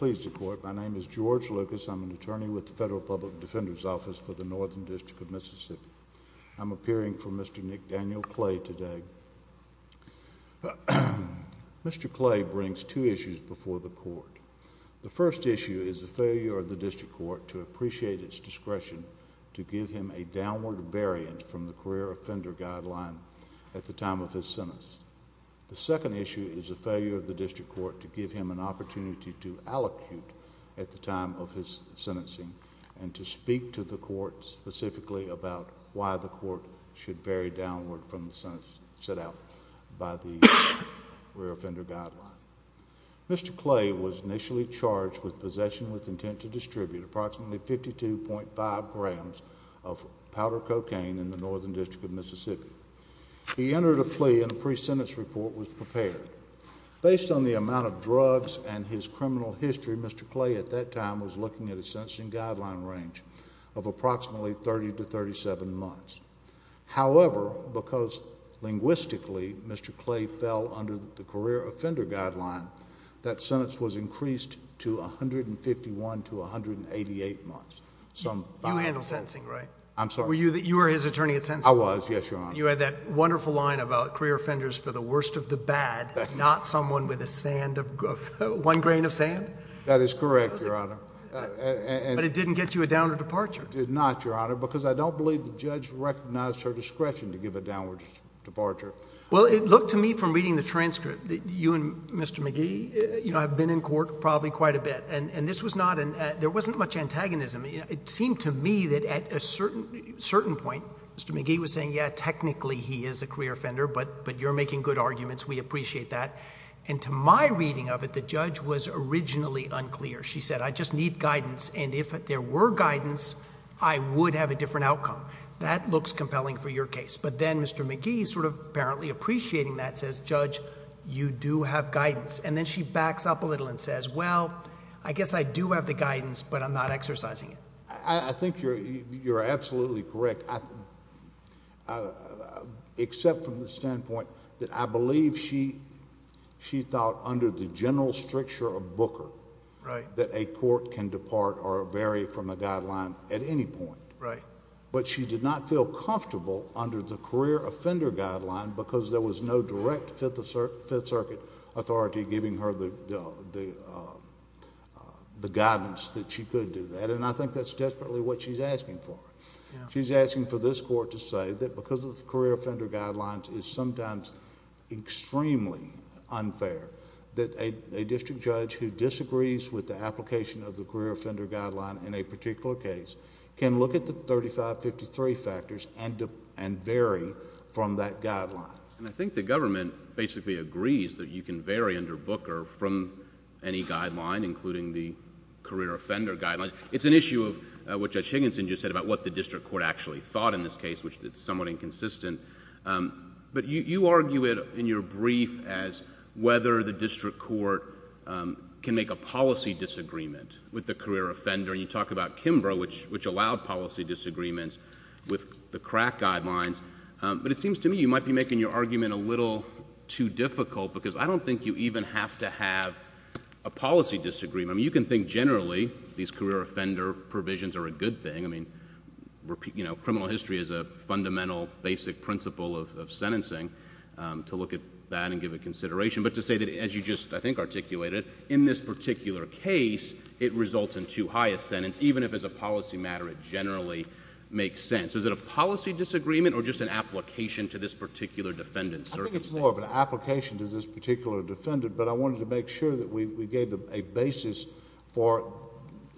My name is George Lucas. I'm an attorney with the Federal Public Defender's Office for the Northern District of Mississippi. I'm appearing for Mr. Nickdaniel Clay today. Mr. Clay brings two issues before the court. The first issue is the failure of the district court to appreciate its discretion to give him a downward variant from the career offender guideline at the time of his sentence. The second issue is the failure of the district court to give him an opportunity to allocute at the time of his sentencing and to speak to the court specifically about why the court should vary downward from the sentence set out by the career offender guideline. Mr. Clay was initially charged with possession with intent to distribute approximately 52.5 grams of powder cocaine in the Northern District of Mississippi. He entered a plea and a pre-sentence report was prepared. Based on the amount of drugs and his criminal history, Mr. Clay at that time was looking at a sentencing guideline range of approximately 30 to 37 months. However, because linguistically Mr. Clay fell under the career offender guideline, that sentence was increased to 151 to 188 months. You handled sentencing, right? I'm sorry? You were his attorney at sentencing? I was, yes, Your Honor. You had that wonderful line about career offenders for the worst of the bad, not someone with one grain of sand? That is correct, Your Honor. But it didn't get you a downward departure? It did not, Your Honor, because I don't believe the judge recognized her discretion to give a downward departure. Well, it looked to me from reading the transcript that you and Mr. McGee have been in court probably quite a bit. And this was not – there wasn't much antagonism. It seemed to me that at a certain point, Mr. McGee was saying, yeah, technically he is a career offender, but you're making good arguments. We appreciate that. And to my reading of it, the judge was originally unclear. She said, I just need guidance, and if there were guidance, I would have a different outcome. That looks compelling for your case. But then Mr. McGee, sort of apparently appreciating that, says, Judge, you do have guidance. And then she backs up a little and says, well, I guess I do have the guidance, but I'm not exercising it. I think you're absolutely correct, except from the standpoint that I believe she thought under the general stricture of Booker that a court can depart or vary from a guideline at any point. Right. But she did not feel comfortable under the career offender guideline because there was no direct Fifth Circuit authority giving her the guidance that she could do that. And I think that's desperately what she's asking for. She's asking for this court to say that because of the career offender guidelines is sometimes extremely unfair, that a district judge who disagrees with the application of the career offender guideline in a particular case can look at the 3553 factors and vary from that guideline. And I think the government basically agrees that you can vary under Booker from any guideline, including the career offender guidelines. It's an issue of what Judge Higginson just said about what the district court actually thought in this case, which is somewhat inconsistent. But you argue it in your brief as whether the district court can make a policy disagreement with the career offender. And you talk about Kimbrough, which allowed policy disagreements with the crack guidelines. But it seems to me you might be making your argument a little too difficult because I don't think you even have to have a policy disagreement. I mean, you can think generally these career offender provisions are a good thing. I mean, you know, criminal history is a fundamental basic principle of sentencing to look at that and give it consideration. But to say that as you just, I think, articulated, in this particular case it results in too high a sentence, even if as a policy matter it generally makes sense. Is it a policy disagreement or just an application to this particular defendant? I think it's more of an application to this particular defendant. But I wanted to make sure that we gave a basis for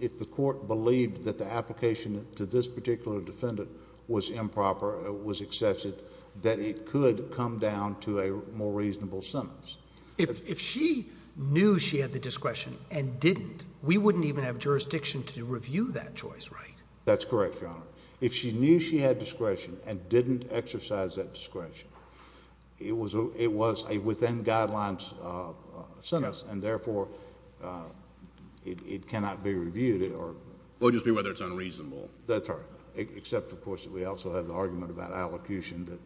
if the court believed that the application to this particular defendant was improper, was excessive, that it could come down to a more reasonable sentence. If she knew she had the discretion and didn't, we wouldn't even have jurisdiction to review that choice, right? That's correct, Your Honor. If she knew she had discretion and didn't exercise that discretion, it was a within guidelines sentence and, therefore, it cannot be reviewed. It would just be whether it's unreasonable. That's right. Except, of course, that we also have the argument about allocution that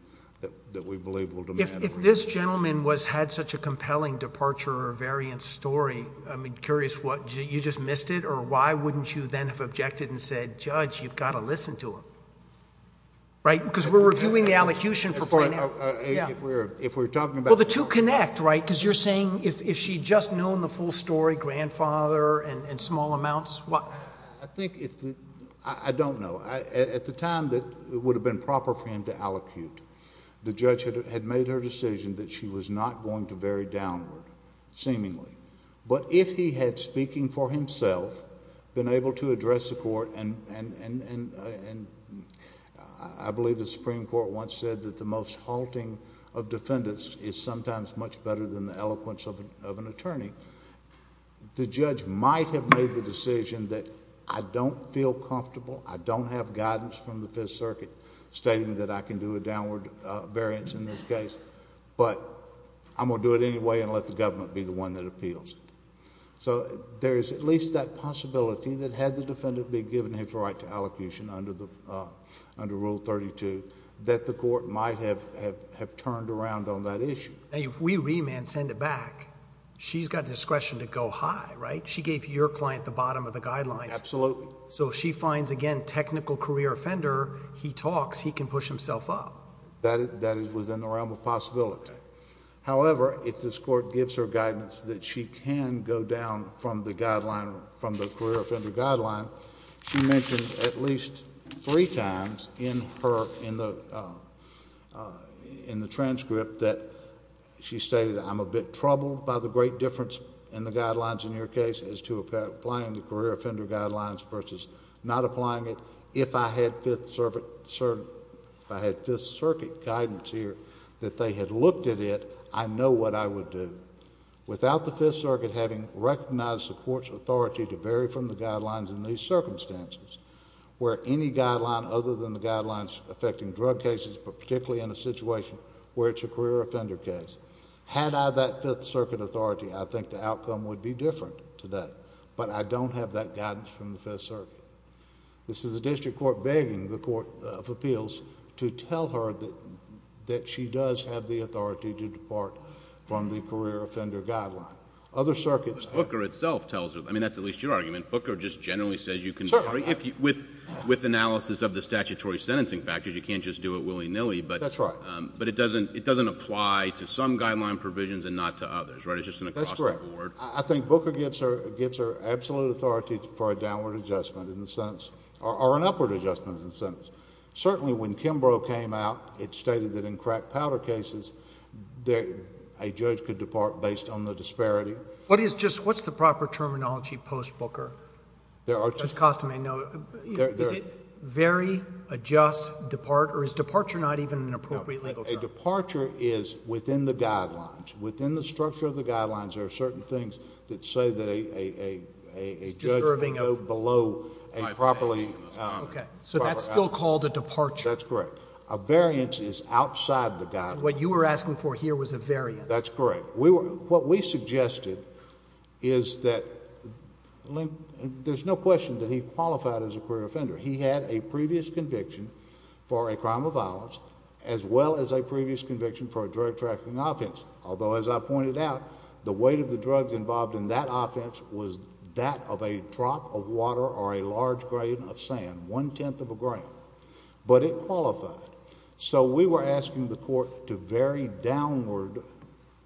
we believe will demand it. If this gentleman had such a compelling departure or variance story, I'm curious, you just missed it? Or why wouldn't you then have objected and said, Judge, you've got to listen to him? Right? Because we're reviewing the allocution for... If we're talking about... Well, the two connect, right? Because you're saying if she had just known the full story, grandfather and small amounts... I think if the... I don't know. At the time, it would have been proper for him to allocute. The judge had made her decision that she was not going to vary downward, seemingly. But if he had, speaking for himself, been able to address the court and I believe the Supreme Court once said that the most halting of defendants is sometimes much better than the eloquence of an attorney, the judge might have made the decision that I don't feel comfortable. I don't have guidance from the Fifth Circuit stating that I can do a downward variance in this case. But I'm going to do it anyway and let the government be the one that appeals. So there is at least that possibility that had the defendant been given his right to allocation under Rule 32, that the court might have turned around on that issue. Now, if we remand, send it back, she's got discretion to go high, right? She gave your client the bottom of the guidelines. Absolutely. So if she finds, again, technical career offender, he talks, he can push himself up. That is within the realm of possibility. However, if this court gives her guidance that she can go down from the career offender guideline, she mentioned at least three times in the transcript that she stated, I'm a bit troubled by the great difference in the guidelines in your case as to applying the career offender guidelines versus not applying it. If I had Fifth Circuit guidance here that they had looked at it, I know what I would do. Without the Fifth Circuit having recognized the court's authority to vary from the guidelines in these circumstances, where any guideline other than the guidelines affecting drug cases, but particularly in a situation where it's a career offender case, had I that Fifth Circuit authority, I think the outcome would be different today. This is a district court begging the Court of Appeals to tell her that she does have the authority to depart from the career offender guideline. Other circuits have... But Booker itself tells her. I mean, that's at least your argument. Booker just generally says you can... Certainly. With analysis of the statutory sentencing factors, you can't just do it willy-nilly, but... That's right. But it doesn't apply to some guideline provisions and not to others, right? It's just an across-the-board... That's correct. I think Booker gets her absolute authority for a downward adjustment in the sentence, or an upward adjustment in the sentence. Certainly, when Kimbrough came out, it stated that in crack powder cases, a judge could depart based on the disparity. What is just... what's the proper terminology post-Booker? There are... To cost him a note, is it vary, adjust, depart, or is departure not even an appropriate legal term? No. A departure is within the guidelines. There are certain things that say that a judge can go below a properly... Okay. So that's still called a departure. That's correct. A variance is outside the guidelines. What you were asking for here was a variance. That's correct. What we suggested is that... there's no question that he qualified as a queer offender. He had a previous conviction for a crime of violence, as well as a previous conviction for a drug trafficking offense. Although, as I pointed out, the weight of the drugs involved in that offense was that of a drop of water or a large grain of sand. One-tenth of a grain. But it qualified. So we were asking the court to vary downward,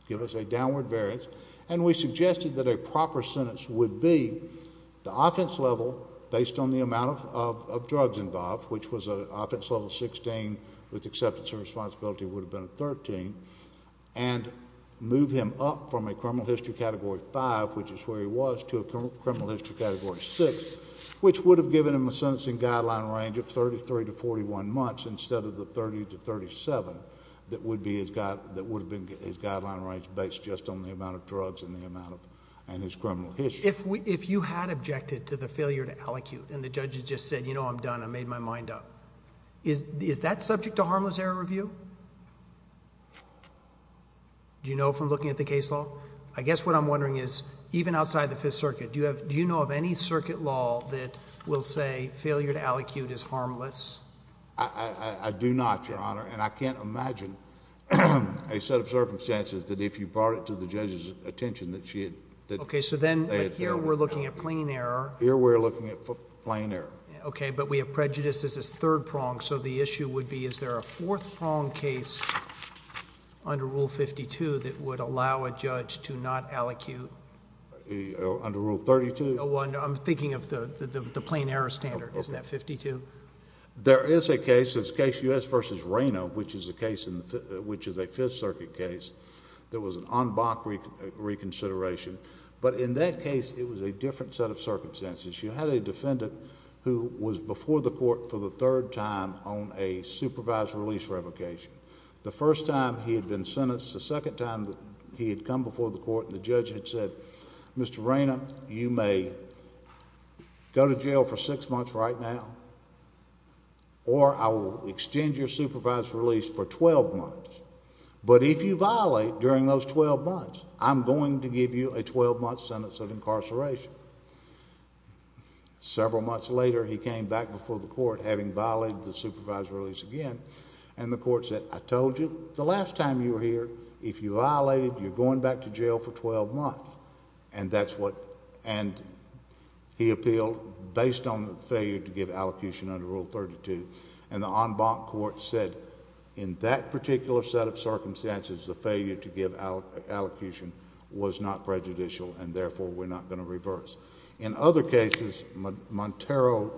give us a downward variance, and we suggested that a proper sentence would be the offense level, based on the amount of drugs involved, which was an offense level of 16, with acceptance and responsibility would have been a 13, and move him up from a criminal history Category 5, which is where he was, to a criminal history Category 6, which would have given him a sentencing guideline range of 33 to 41 months instead of the 30 to 37 that would have been his guideline range based just on the amount of drugs and his criminal history. If you had objected to the failure to allocute and the judge had just said, you know, I'm done, I made my mind up, is that subject to harmless error review? Do you know from looking at the case law? I guess what I'm wondering is, even outside the Fifth Circuit, do you know of any circuit law that will say failure to allocute is harmless? I do not, Your Honor, and I can't imagine a set of circumstances that if you brought it to the judge's attention that she had failed. Okay, so then here we're looking at plain error. Here we're looking at plain error. Okay, but we have prejudices as third prong, so the issue would be is there a fourth prong case under Rule 52 that would allow a judge to not allocute? Under Rule 32? No, I'm thinking of the plain error standard. Isn't that 52? There is a case. It's case U.S. v. Reno, which is a Fifth Circuit case. There was an en banc reconsideration, but in that case it was a different set of circumstances. You had a defendant who was before the court for the third time on a supervised release revocation. The first time he had been sentenced, the second time he had come before the court, the judge had said, Mr. Reno, you may go to jail for six months right now, or I will extend your supervised release for 12 months, but if you violate during those 12 months, I'm going to give you a 12-month sentence of incarceration. Several months later, he came back before the court, having violated the supervised release again, and the court said, I told you the last time you were here, if you violated, you're going back to jail for 12 months, and he appealed based on the failure to give allocution under Rule 32, and the en banc court said in that particular set of circumstances, the failure to give allocution was not prejudicial, and therefore, we're not going to reverse. In other cases, Montero,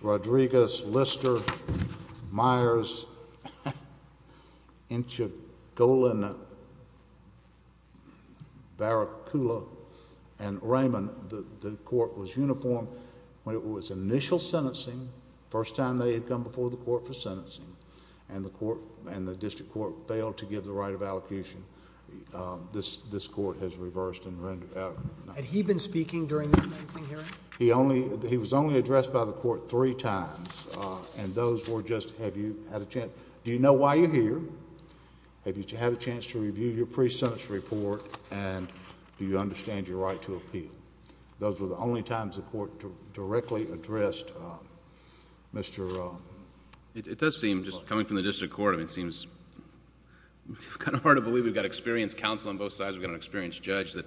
Rodriguez, Lister, Myers, Inchagolin, Barracuda, and Raymond, when the court was uniform, when it was initial sentencing, the first time they had come before the court for sentencing, and the district court failed to give the right of allocation, this court has reversed and rendered out. Had he been speaking during the sentencing hearing? He was only addressed by the court three times, and those were just, have you had a chance, do you know why you're here, have you had a chance to review your pre-sentence report, and do you understand your right to appeal? Those were the only times the court directly addressed Mr. ______. It does seem, just coming from the district court, it seems kind of hard to believe we've got experienced counsel on both sides, we've got an experienced judge, that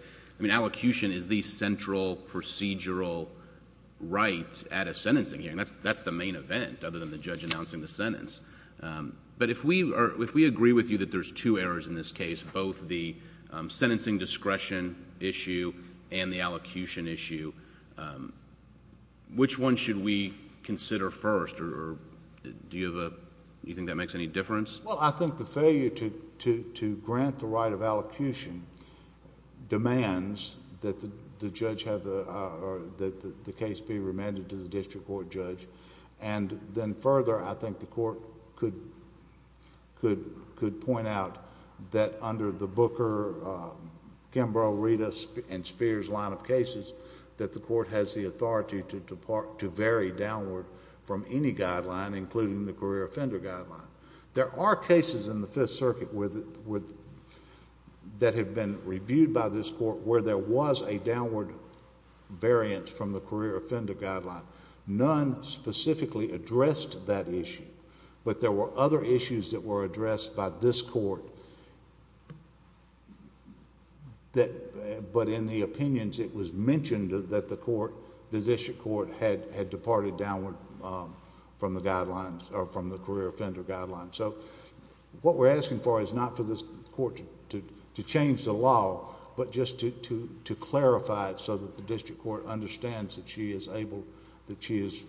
allocution is the central procedural right at a sentencing hearing. That's the main event, other than the judge announcing the sentence. But if we agree with you that there's two errors in this case, both the sentencing discretion issue and the allocation issue, which one should we consider first, or do you think that makes any difference? Well, I think the failure to grant the right of allocation demands that the judge have the case be remanded to the district court judge, and then further, I think the court could point out that under the Booker, Kimbrough, Rita, and Spears line of cases, that the court has the authority to vary downward from any guideline, including the career offender guideline. There are cases in the Fifth Circuit that have been reviewed by this court where there was a downward variance from the career offender guideline. None specifically addressed that issue, but there were other issues that were addressed by this court, but in the opinions, it was mentioned that the court, the district court, had departed downward from the guidelines, or from the career offender guideline. So what we're asking for is not for this court to change the law, but just to clarify it so that the district court understands that she is able, that she is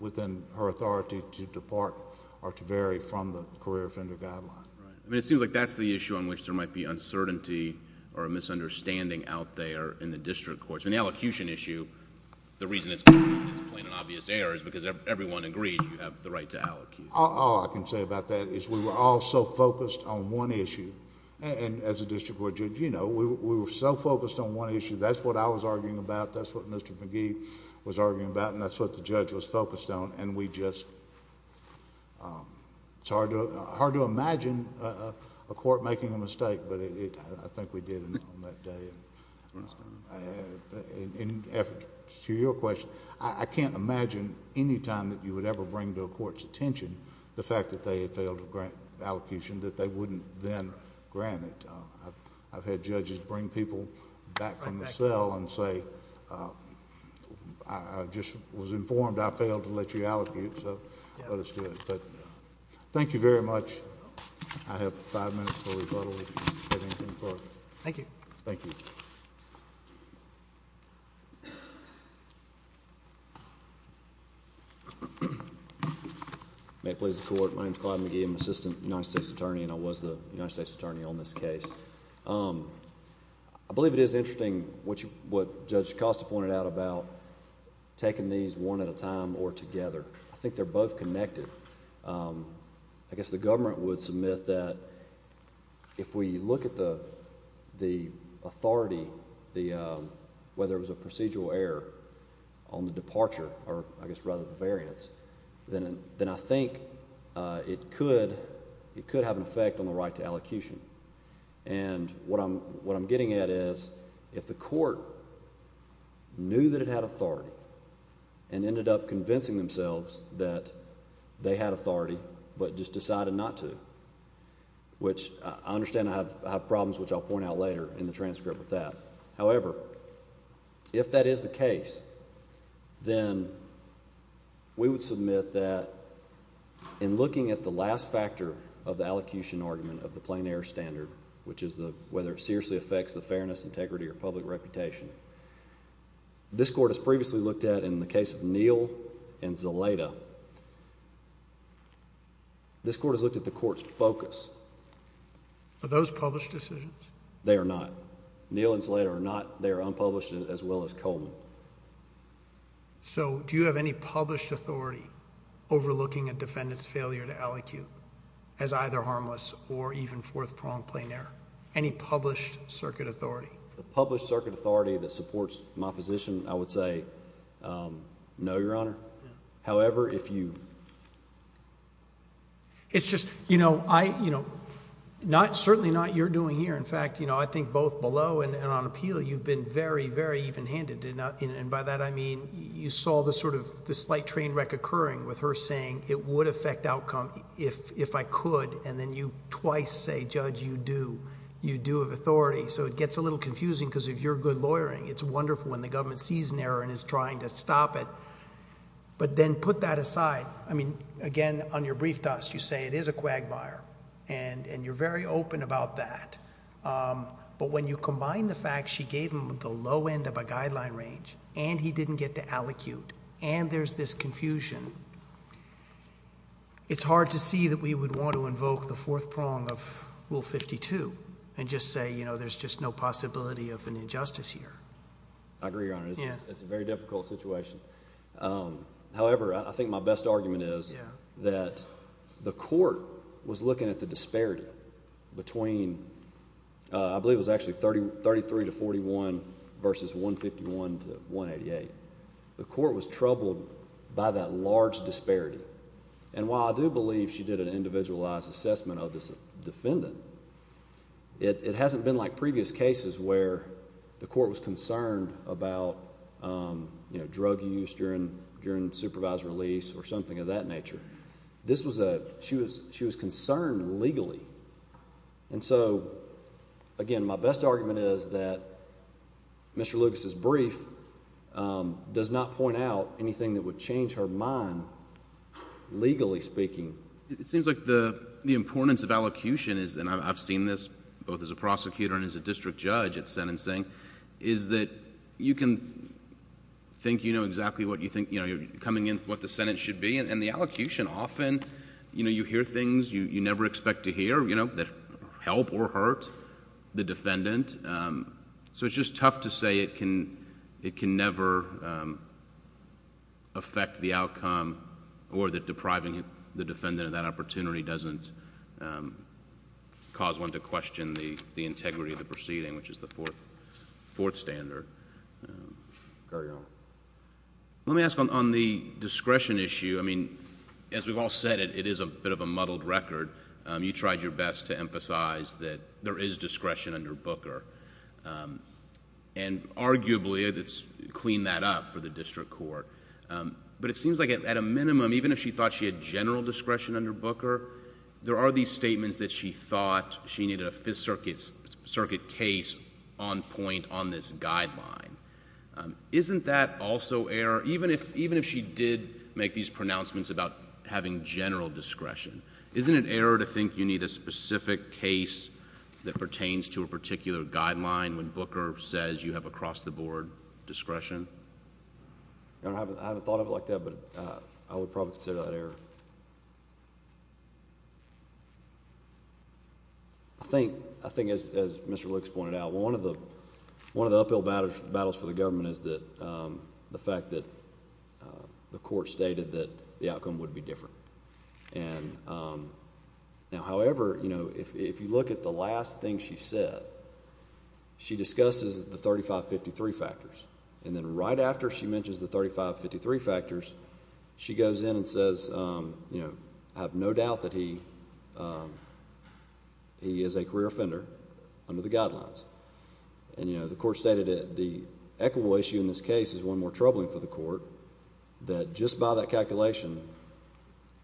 within her authority to depart or to vary from the career offender guideline. Right. I mean, it seems like that's the issue on which there might be uncertainty or a misunderstanding out there in the district courts. In the allocation issue, the reason it's plain and obvious error is because everyone agrees you have the right to allocate. All I can say about that is we were all so focused on one issue, and as a district court judge, you know, we were so focused on one issue. That's what I was arguing about. That's what Mr. McGee was arguing about, and that's what the judge was focused on, and we just... it's hard to imagine a court making a mistake, but I think we did on that day. In effort to your question, I can't imagine any time that you would ever bring to a court's attention the fact that they had failed to grant an allocation that they wouldn't then grant it. I've had judges bring people back from the cell and say, I just was informed I failed to let you allocate, so let us do it. Thank you very much. I have five minutes for rebuttal if you have anything further. Thank you. Thank you. May it please the Court. My name is Clyde McGee. I'm Assistant United States Attorney, and I was the United States Attorney on this case. I believe it is interesting what Judge Costa pointed out about taking these one at a time or together. I think they're both connected. I guess the government would submit that if we look at the authority, whether it was a procedural error on the departure, or I guess rather the variance, then I think it could have an effect on the right to allocation. And what I'm getting at is if the court knew that it had authority and ended up convincing themselves that they had authority but just decided not to, which I understand I have problems, which I'll point out later in the transcript with that. whether it seriously affects the fairness, integrity, or public reputation. This Court has previously looked at, in the case of Neal and Zelata, this Court has looked at the Court's focus. Are those published decisions? They are not. Neal and Zelata are not. They are unpublished as well as Coleman. So do you have any published authority overlooking a defendant's failure to allocate as either harmless or even fourth-pronged plain error? Any published circuit authority? The published circuit authority that supports my position, I would say no, Your Honor. However, if you... It's just, you know, I... certainly not what you're doing here. In fact, you know, I think both below and on appeal, you've been very, very even-handed. And by that I mean you saw the sort of... the slight train wreck occurring with her saying it would affect outcome if I could. And then you twice say, Judge, you do. You do have authority. So it gets a little confusing because if you're good lawyering, it's wonderful when the government sees an error and is trying to stop it. But then put that aside. I mean, again, on your brief dust, you say it is a quagmire. And you're very open about that. But when you combine the fact she gave him the low end of a guideline range, and he didn't get to allocute, and there's this confusion, it's hard to see that we would want to invoke the fourth prong of Rule 52 and just say, you know, there's just no possibility of an injustice here. I agree, Your Honor. It's a very difficult situation. However, I think my best argument is that the court was looking at the disparity between... I believe it was actually 33 to 41 versus 151 to 188. The court was troubled by that large disparity. And while I do believe she did an individualized assessment of this defendant, it hasn't been like previous cases where the court was concerned about, you know, drug use during supervisor release or something of that nature. This was a... she was concerned legally. And so, again, my best argument is that Mr. Lucas's brief does not point out anything that would change her mind legally speaking. It seems like the importance of allocution is, and I've seen this both as a prosecutor and as a district judge at sentencing, is that you can think you know exactly what you think... you know, you're coming in with what the sentence should be, and the allocution often, you know, you hear things you never expect to hear, you know, that help or hurt the defendant. So it's just tough to say it can never affect the outcome or that depriving the defendant of that opportunity doesn't cause one to question the integrity of the proceeding, which is the fourth standard. Carry on. Let me ask on the discretion issue. I mean, as we've all said, it is a bit of a muddled record. You tried your best to emphasize that there is discretion under Booker. And arguably, it's cleaned that up for the district court. But it seems like at a minimum, even if she thought she had general discretion under Booker, there are these statements that she thought she needed a Fifth Circuit case on point on this guideline. Isn't that also error... even if she did make these pronouncements about having general discretion, isn't it error to think you need a specific case that pertains to a particular guideline when Booker says you have across-the-board discretion? I haven't thought of it like that, but I would probably consider that error. I think, as Mr. Lucas pointed out, one of the uphill battles for the government is the fact that the court stated that the outcome would be different. Now, however, if you look at the last thing she said, she discusses the 3553 factors. And then right after she mentions the 3553 factors, she goes in and says, I have no doubt that he is a career offender under the guidelines. And the court stated that the equitable issue in this case is one more troubling for the court, that just by that calculation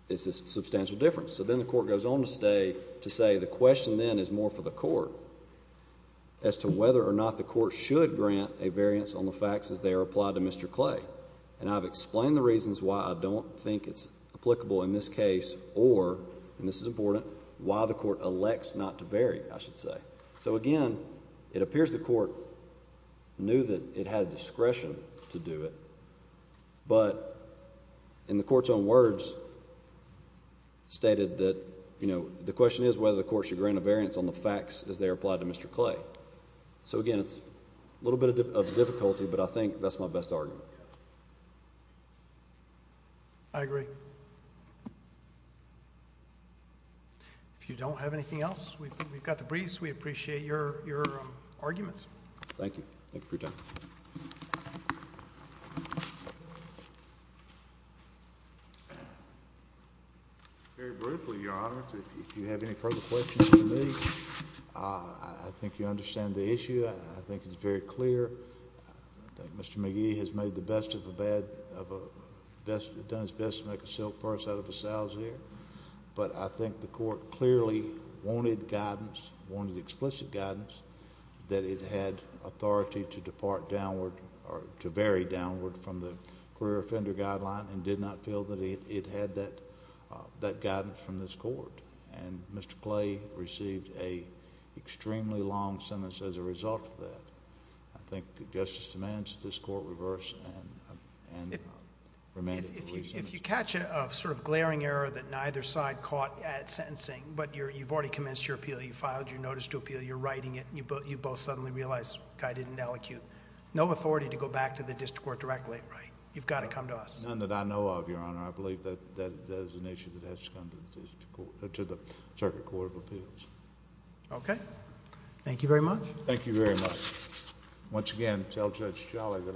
is a substantial difference. So then the court goes on to say the question then is more for the court as to whether or not the court should grant a variance on the facts as they are applied to Mr. Clay. And I've explained the reasons why I don't think it's applicable in this case or, and this is important, why the court elects not to vary, I should say. So, again, it appears the court knew that it had discretion to do it, but in the court's own words stated that, you know, the question is whether the court should grant a variance on the facts as they are applied to Mr. Clay. So, again, it's a little bit of difficulty, but I think that's my best argument. I agree. If you don't have anything else, we've got the briefs. We appreciate your arguments. Thank you. Thank you for your time. Very briefly, Your Honor, if you have any further questions for me, I think you understand the issue. I think it's very clear that Mr. McGee has made the best of a bad, done his best to make a silk purse out of a sow's ear, but I think the court clearly wanted guidance, wanted explicit guidance, that it had authority to depart downward or to vary downward from the career offender guideline and did not feel that it had that guidance from this court. And Mr. Clay received an extremely long sentence as a result of that. I think justice demands that this court reverse and remain in the release of the sentence. If you catch a sort of glaring error that neither side caught at sentencing, but you've already commenced your appeal, you've filed your notice to appeal, you're writing it, and you both suddenly realize, okay, I didn't allocute, no authority to go back to the district court directly, right? You've got to come to us. None that I know of, Your Honor. I believe that that is an issue that has to come to the circuit court of appeals. Okay. Thank you very much. Thank you very much.